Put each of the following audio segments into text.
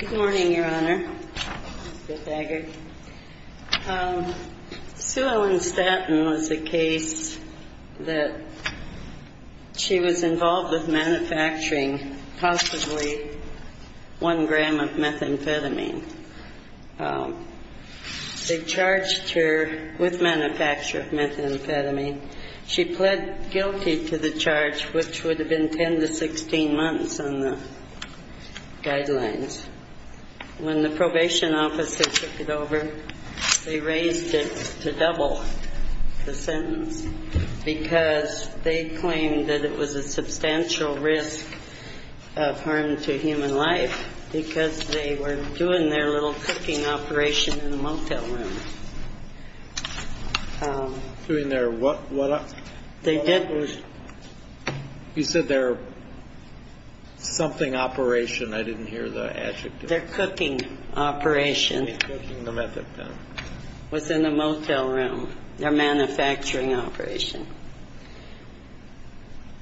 Good morning, your honor. Sue Ellen Staten was a case that she was involved with manufacturing possibly 1 gram of methamphetamine. They charged her with manufacture of methamphetamine. She pled guilty to the charge, which would have been 10 to 16 months on the guideline. When the probation officer took it over, they raised it to double the sentence because they claimed that it was a substantial risk of harm to human life because they were doing their little cooking operation in a motel room.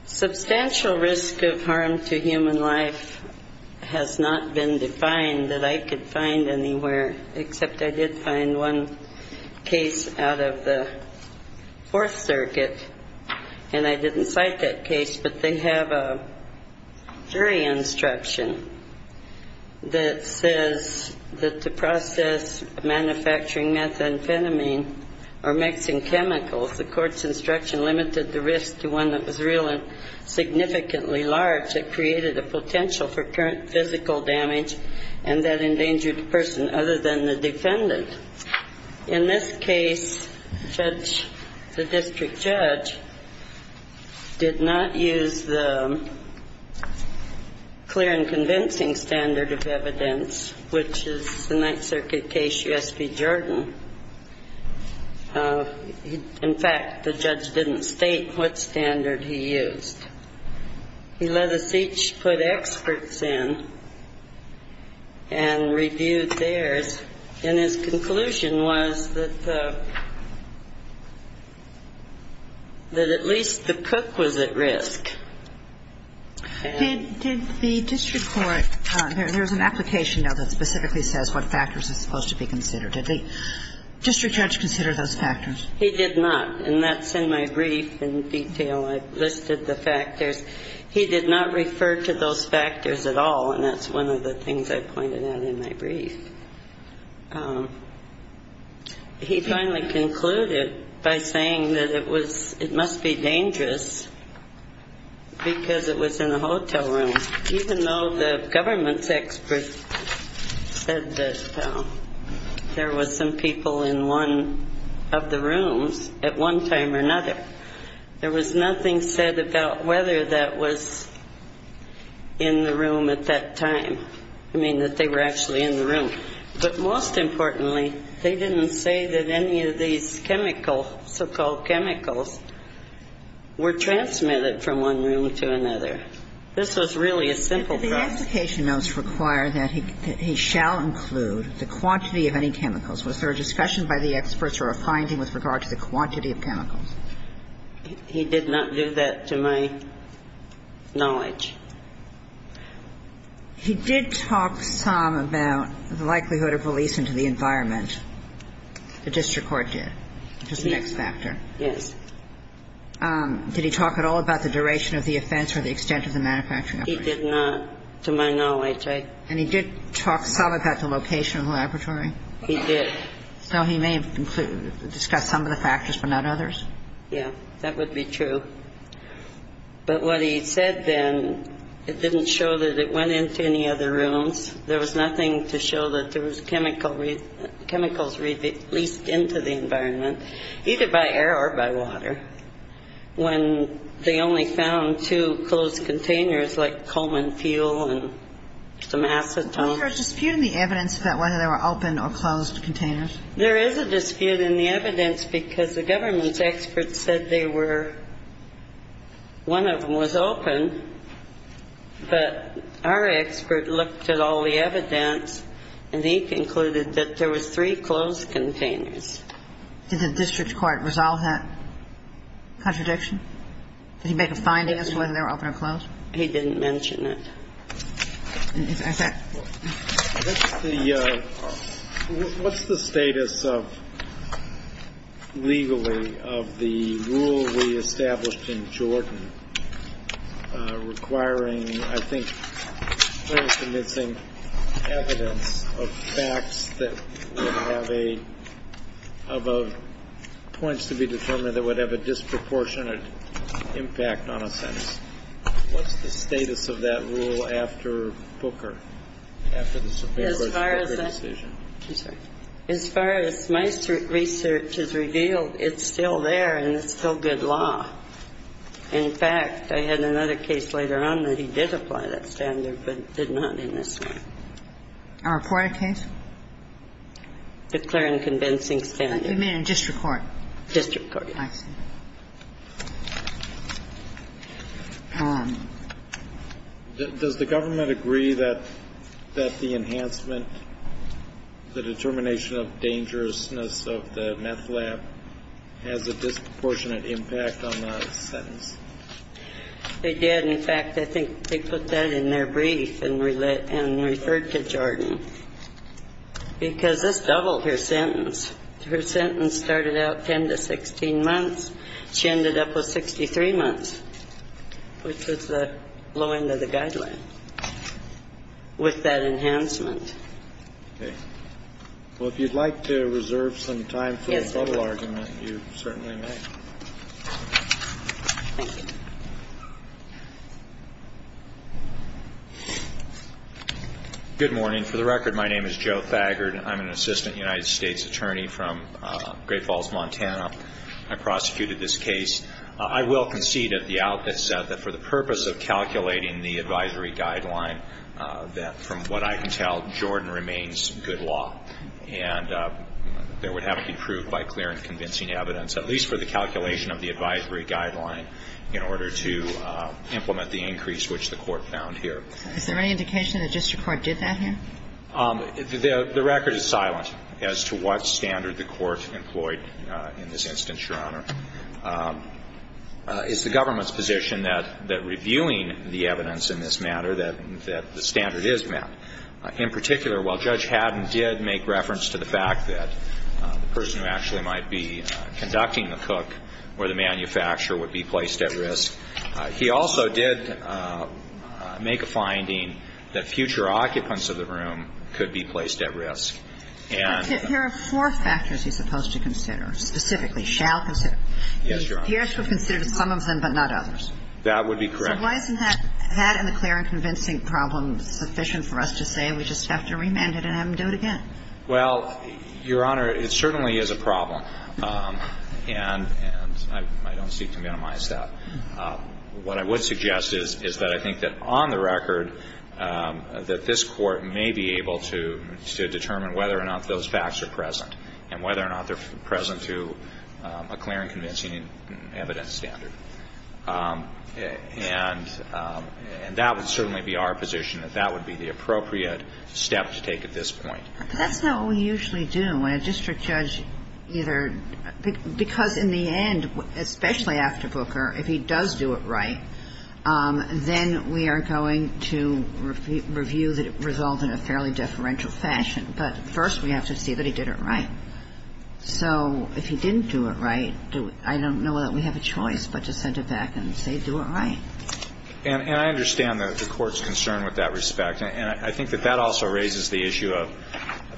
Substantial risk of harm to human life has not been defined that I could find anywhere, except I did find one in a motel room. And I didn't cite that case, but they have a jury instruction that says that to process manufacturing methamphetamine or mixing chemicals, the court's instruction limited the risk to one that was real and significantly large. In this case, the district judge did not use the clear and convincing standard of evidence, which is the Ninth Circuit case, U.S. v. Jordan. In fact, the judge didn't state what standard he used. He let us each put experts in and reviewed theirs, and his conclusion was that at least the cook was at risk. Did the district court – there's an application now that specifically says what factors are supposed to be considered. Did the district judge consider those factors? He did not, and that's in my brief in detail. I've listed the factors. He did not refer to those factors at all, and that's one of the things I pointed out in my brief. He finally concluded by saying that it was – it must be dangerous because it was in a hotel room, even though the government's experts said that there was some people in one of the rooms at one time or another. There was nothing said about whether that was in the room at that time, I mean, that they were actually in the room. But most importantly, they didn't say that any of these chemical, so-called chemicals, were transmitted from one room to another. This was really a simple process. The application notes require that he shall include the quantity of any chemicals. Was there a discussion by the experts or a finding with regard to the quantity of chemicals? He did not do that to my knowledge. He did talk some about the likelihood of release into the environment. The district court did, which is the next factor. Yes. Did he talk at all about the duration of the offense or the extent of the manufacturing operation? He did not, to my knowledge. And he did talk some about the location of the laboratory? He did. So he may have discussed some of the factors but not others? Yes, that would be true. But what he said then, it didn't show that it went into any other rooms. There was nothing to show that there was chemicals released into the environment, either by air or by water, when they only found two closed containers like coal and fuel and some acetone. Was there a dispute in the evidence about whether they were open or closed containers? There is a dispute in the evidence because the government's experts said they were, one of them was open, but our expert looked at all the evidence and he concluded that there was three closed containers. Did the district court resolve that contradiction? Did he make a finding as to whether they were open or closed? He didn't mention it. What's the status of, legally, of the rule we established in Jordan requiring, I think, of facts that would have a, of points to be determined that would have a disproportionate impact on a sentence? What's the status of that rule after Booker, after the Supreme Court's Booker decision? As far as my research has revealed, it's still there and it's still good law. In fact, I had another case later on that he did apply that standard, but did not in this one. A reported case? Declaring convincing standard. You mean in district court? District court. I see. Does the government agree that the enhancement, the determination of dangerousness of the meth lab has a disproportionate impact on the sentence? They did. In fact, I think they put that in their brief and referred to Jordan because this doubled her sentence. Her sentence started out 10 to 16 months. She ended up with 63 months, which was the low end of the guideline, with that enhancement. Okay. Well, if you'd like to reserve some time for a total argument, you certainly may. Thank you. Good morning. For the record, my name is Joe Thagard. I'm an assistant United States attorney from Great Falls, Montana. I prosecuted this case. I will concede that the outlet said that for the purpose of calculating the advisory guideline, that from what I can tell, Jordan remains good law. And there would have to be proof by clear and convincing evidence, at least for the calculation of the advisory guideline, in order to implement the increase which the court found here. Is there any indication that district court did that here? The record is silent as to what standard the court employed in this instance, Your Honor. It's the government's position that reviewing the evidence in this matter, that the standard is met. In particular, while Judge Haddon did make reference to the fact that the person who actually might be conducting the cook or the manufacturer would be placed at risk, he also did make a finding that future occupants of the room could be placed at risk. There are four factors he's supposed to consider, specifically shall consider. Yes, Your Honor. He has to have considered some of them but not others. That would be correct. So why isn't that in the clear and convincing problem sufficient for us to say we just have to remand it and have him do it again? Well, Your Honor, it certainly is a problem. And I don't seek to minimize that. What I would suggest is that I think that on the record that this Court may be able to determine whether or not those facts are present and whether or not they're present to a clear and convincing evidence standard. And that would certainly be our position, that that would be the appropriate step to take at this point. But that's not what we usually do when a district judge either – because in the end, especially after Booker, if he does do it right, then we are going to review that it resolved in a fairly deferential fashion. But first we have to see that he did it right. So if he didn't do it right, I don't know that we have a choice but to send it back and say do it right. And I understand the Court's concern with that respect. And I think that that also raises the issue of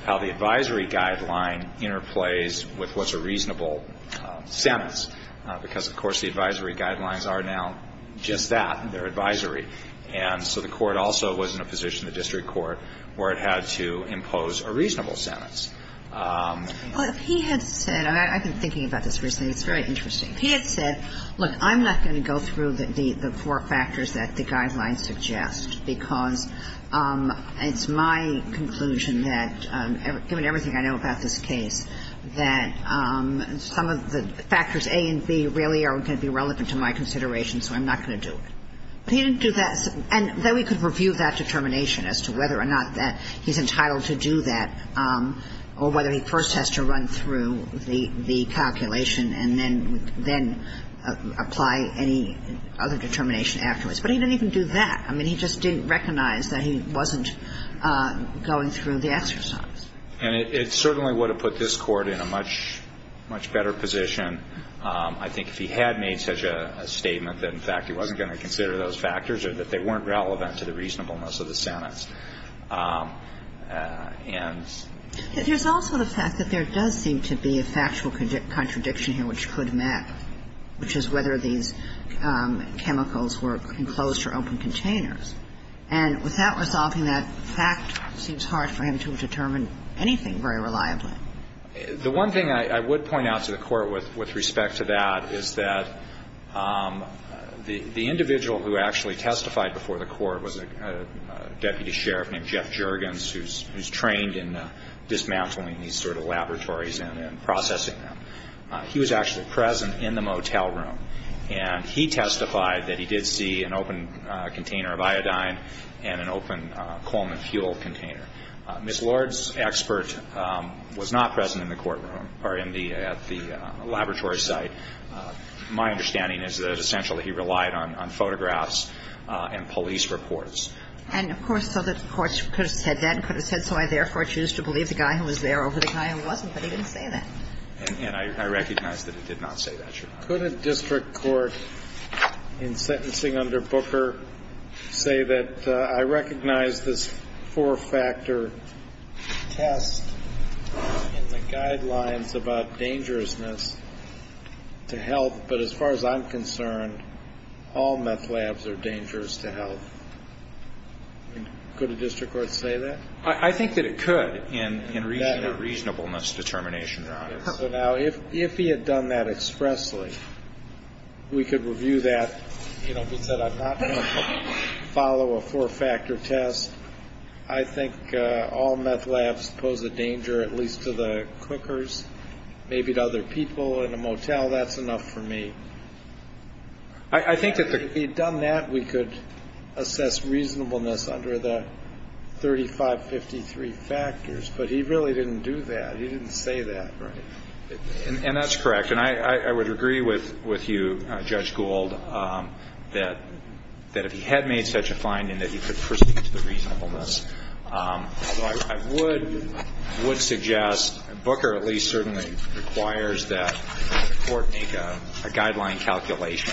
how the advisory guideline interplays with what's a reasonable sentence. Because, of course, the advisory guidelines are now just that, they're advisory. And so the Court also was in a position, the district court, where it had to impose a reasonable sentence. Well, if he had said – I've been thinking about this recently. It's very interesting. If he had said, look, I'm not going to go through the four factors that the guidelines suggest because it's my conclusion that, given everything I know about this case, that some of the factors A and B really are going to be relevant to my consideration, so I'm not going to do it. If he didn't do that – and then we could review that determination as to whether or not that he's entitled to do that or whether he first has to run through the calculation and then apply any other determination afterwards. But he didn't even do that. I mean, he just didn't recognize that he wasn't going through the exercise. And it certainly would have put this Court in a much, much better position, I think, if he had made such a statement that, in fact, he wasn't going to consider those factors or that they weren't relevant to the reasonableness of the sentence. There's also the fact that there does seem to be a factual contradiction here which could map, which is whether these chemicals were enclosed or open containers. And without resolving that fact, it seems hard for him to have determined anything very reliably. The one thing I would point out to the Court with respect to that is that the individual who actually testified before the Court was a deputy sheriff named Jeff Juergens who's trained in dismantling these sort of laboratories and processing them. He was actually present in the motel room. And he testified that he did see an open container of iodine and an open coal and fuel container. Ms. Lord's expert was not present in the courtroom or at the laboratory site. My understanding is that essentially he relied on photographs and police reports. And, of course, so the courts could have said that and could have said, so I therefore choose to believe the guy who was there over the guy who wasn't. But he didn't say that. And I recognize that he did not say that, Your Honor. Could a district court in sentencing under Booker say that, I recognize this four-factor test in the guidelines about dangerousness to health, but as far as I'm concerned, all meth labs are dangerous to health. Could a district court say that? I think that it could in reasonableness determination, Your Honor. Now, if he had done that expressly, we could review that. You know, if he said I'm not going to follow a four-factor test, I think all meth labs pose a danger at least to the cookers, maybe to other people in a motel. That's enough for me. I think that if he had done that, we could assess reasonableness under the 3553 factors. But he really didn't do that. He didn't say that. And that's correct. And I would agree with you, Judge Gould, that if he had made such a finding, that he could proceed to the reasonableness. I would suggest, and Booker at least certainly requires that the court make a guideline calculation.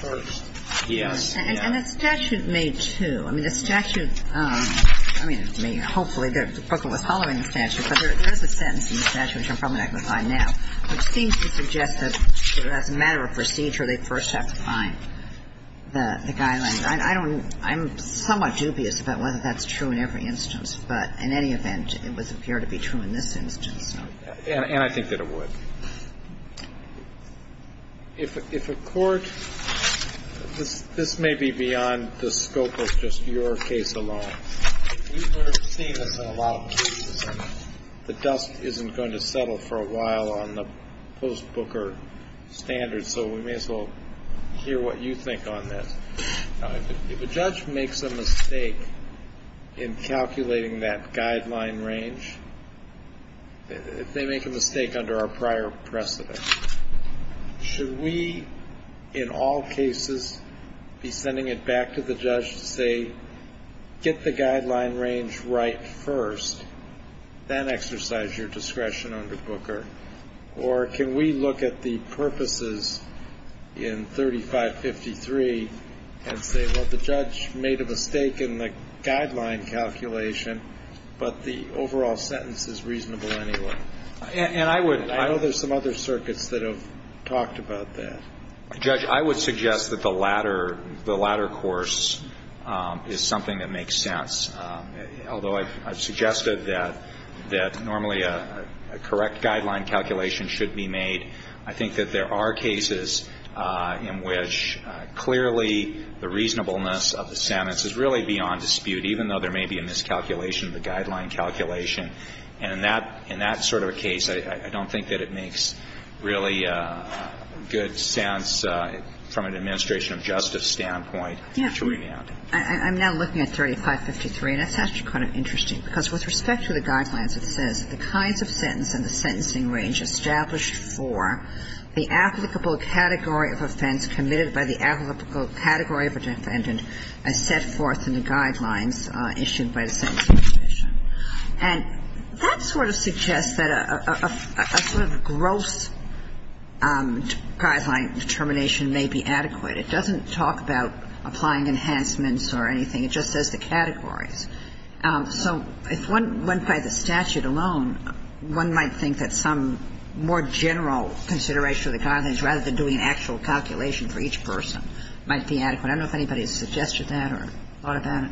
First. Yes. And the statute made two. I mean, the statute, I mean, hopefully Booker was following the statute, but there is a sentence in the statute which I'm probably not going to find now which seems to suggest that as a matter of procedure, they first have to find the guidelines. I don't know. I'm somewhat dubious about whether that's true in every instance, but in any event, it would appear to be true in this instance. And I think that it would. If a court – this may be beyond the scope of just your case alone. We've seen this in a lot of cases. The dust isn't going to settle for a while on the post-Booker standards, so we may as well hear what you think on this. If a judge makes a mistake in calculating that guideline range, if they make a mistake under our prior precedent, should we in all cases be sending it back to the judge to say, get the guideline range right first, then exercise your discretion under Booker? Or can we look at the purposes in 3553 and say, well, the judge made a mistake in the guideline calculation, but the overall sentence is reasonable anyway? And I would – I know there's some other circuits that have talked about that. Judge, I would suggest that the latter course is something that makes sense, although I've suggested that normally a correct guideline calculation should be made. I think that there are cases in which clearly the reasonableness of the sentence is really beyond dispute, even though there may be a miscalculation of the guideline calculation. And in that sort of a case, I don't think that it makes really good sense from an administration of justice standpoint to remand. I'm now looking at 3553, and it's actually kind of interesting, because with respect to the guidelines, it says the kinds of sentence and the sentencing range established for the applicable category of offense committed by the applicable category of a defendant as set forth in the guidelines issued by the sentencing provision. And that sort of suggests that a sort of gross guideline determination may be adequate. It doesn't talk about applying enhancements or anything. It just says the categories. So if one went by the statute alone, one might think that some more general consideration of the guidelines, rather than doing an actual calculation for each person, might be adequate. I don't know if anybody has suggested that or thought about it.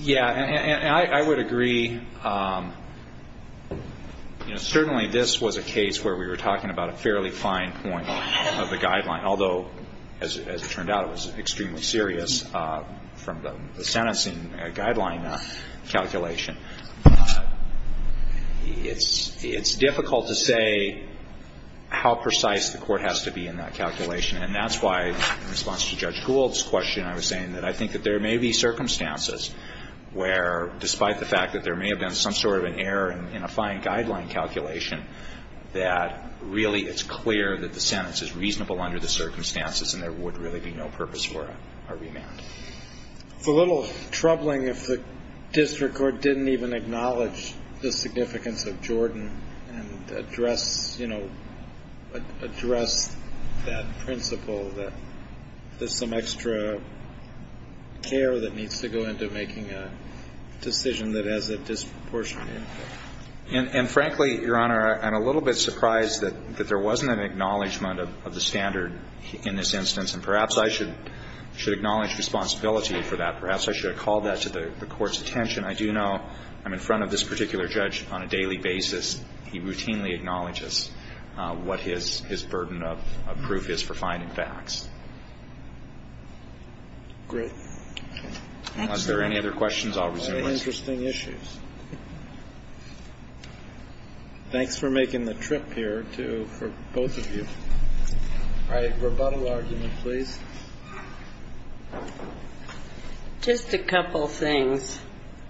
Yeah. And I would agree, you know, certainly this was a case where we were talking about a fairly fine point of the guideline, although, as it turned out, it was extremely serious from the sentencing guideline calculation. It's difficult to say how precise the court has to be in that calculation. And that's why, in response to Judge Gould's question, I was saying that I think that there may be circumstances where, despite the fact that there may have been some sort of an error in a fine guideline that really it's clear that the sentence is reasonable under the circumstances and there would really be no purpose for a remand. It's a little troubling if the district court didn't even acknowledge the significance of Jordan and address, you know, address that principle that there's some extra care that needs to go into making a decision that has a disproportionate impact. And frankly, Your Honor, I'm a little bit surprised that there wasn't an acknowledgment of the standard in this instance. And perhaps I should acknowledge responsibility for that. Perhaps I should have called that to the court's attention. I do know I'm in front of this particular judge on a daily basis. He routinely acknowledges what his burden of proof is for finding facts. Great. Thank you, Your Honor. Unless there are any other questions, I'll resume. No interesting issues. Thanks for making the trip here for both of you. All right, rebuttal argument, please. Just a couple things.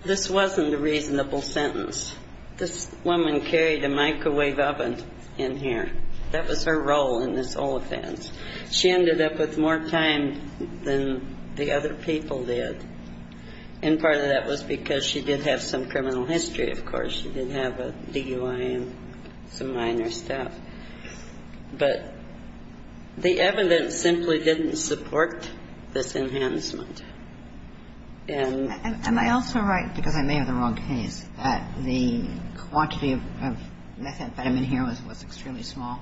This wasn't a reasonable sentence. This woman carried a microwave oven in here. That was her role in this whole offense. She ended up with more time than the other people did. And part of that was because she did have some criminal history, of course. She did have a DUI and some minor stuff. But the evidence simply didn't support this enhancement. And I also write, because I may have the wrong case, that the quantity of methamphetamine here was extremely small.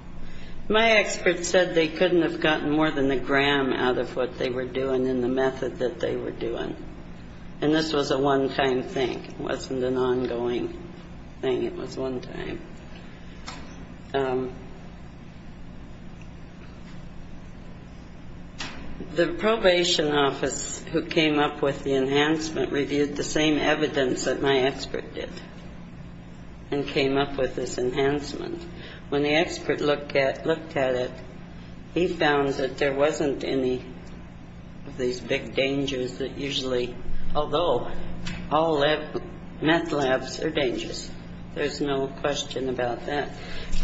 My expert said they couldn't have gotten more than a gram out of what they were doing and the method that they were doing. And this was a one-time thing. It wasn't an ongoing thing. It was one time. The probation office who came up with the enhancement reviewed the same evidence that my expert did and came up with this enhancement. When the expert looked at it, he found that there wasn't any of these big dangers that usually, although all meth labs are dangerous, there's no question about that.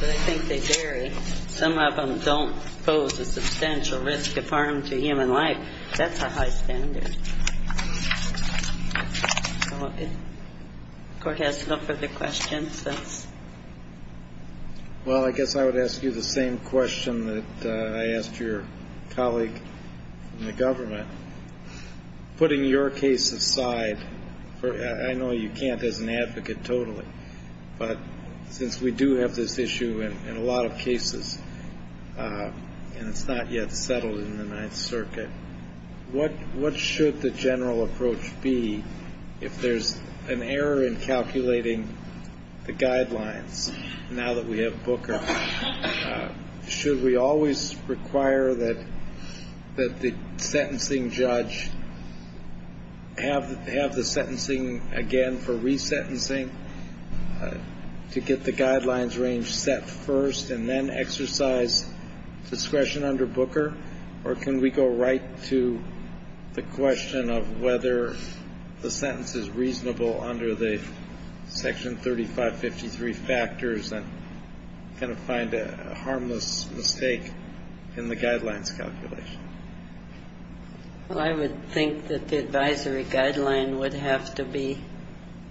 But I think they vary. Some of them don't pose a substantial risk of harm to human life. That's a high standard. Court has no further questions. Well, I guess I would ask you the same question that I asked your colleague in the government. Putting your case aside, I know you can't as an advocate totally, but since we do have this issue in a lot of cases and it's not yet settled in the Ninth Circuit, what should the general approach be if there's an error in calculating the guidelines now that we have Booker? Should we always require that the sentencing judge have the sentencing again for resentencing to get the guidelines range set first and then exercise discretion under Booker? Or can we go right to the question of whether the sentence is reasonable under the Section 3553 factors and kind of find a harmless mistake in the guidelines calculation? Well, I would think that the advisory guideline would have to be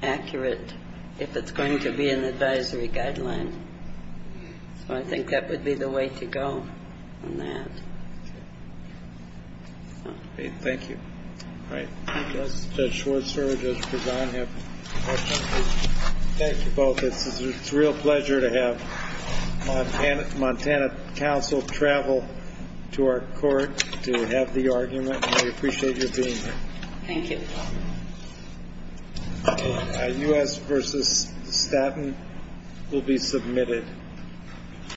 accurate if it's going to be an advisory guideline. So I think that would be the way to go on that. Thank you. All right. Judge Schwartz, Judge Prejean have a question? Thank you both. It's a real pleasure to have Montana Council travel to our court to have the argument. We appreciate your being here. Thank you. U.S. versus Staten will be submitted.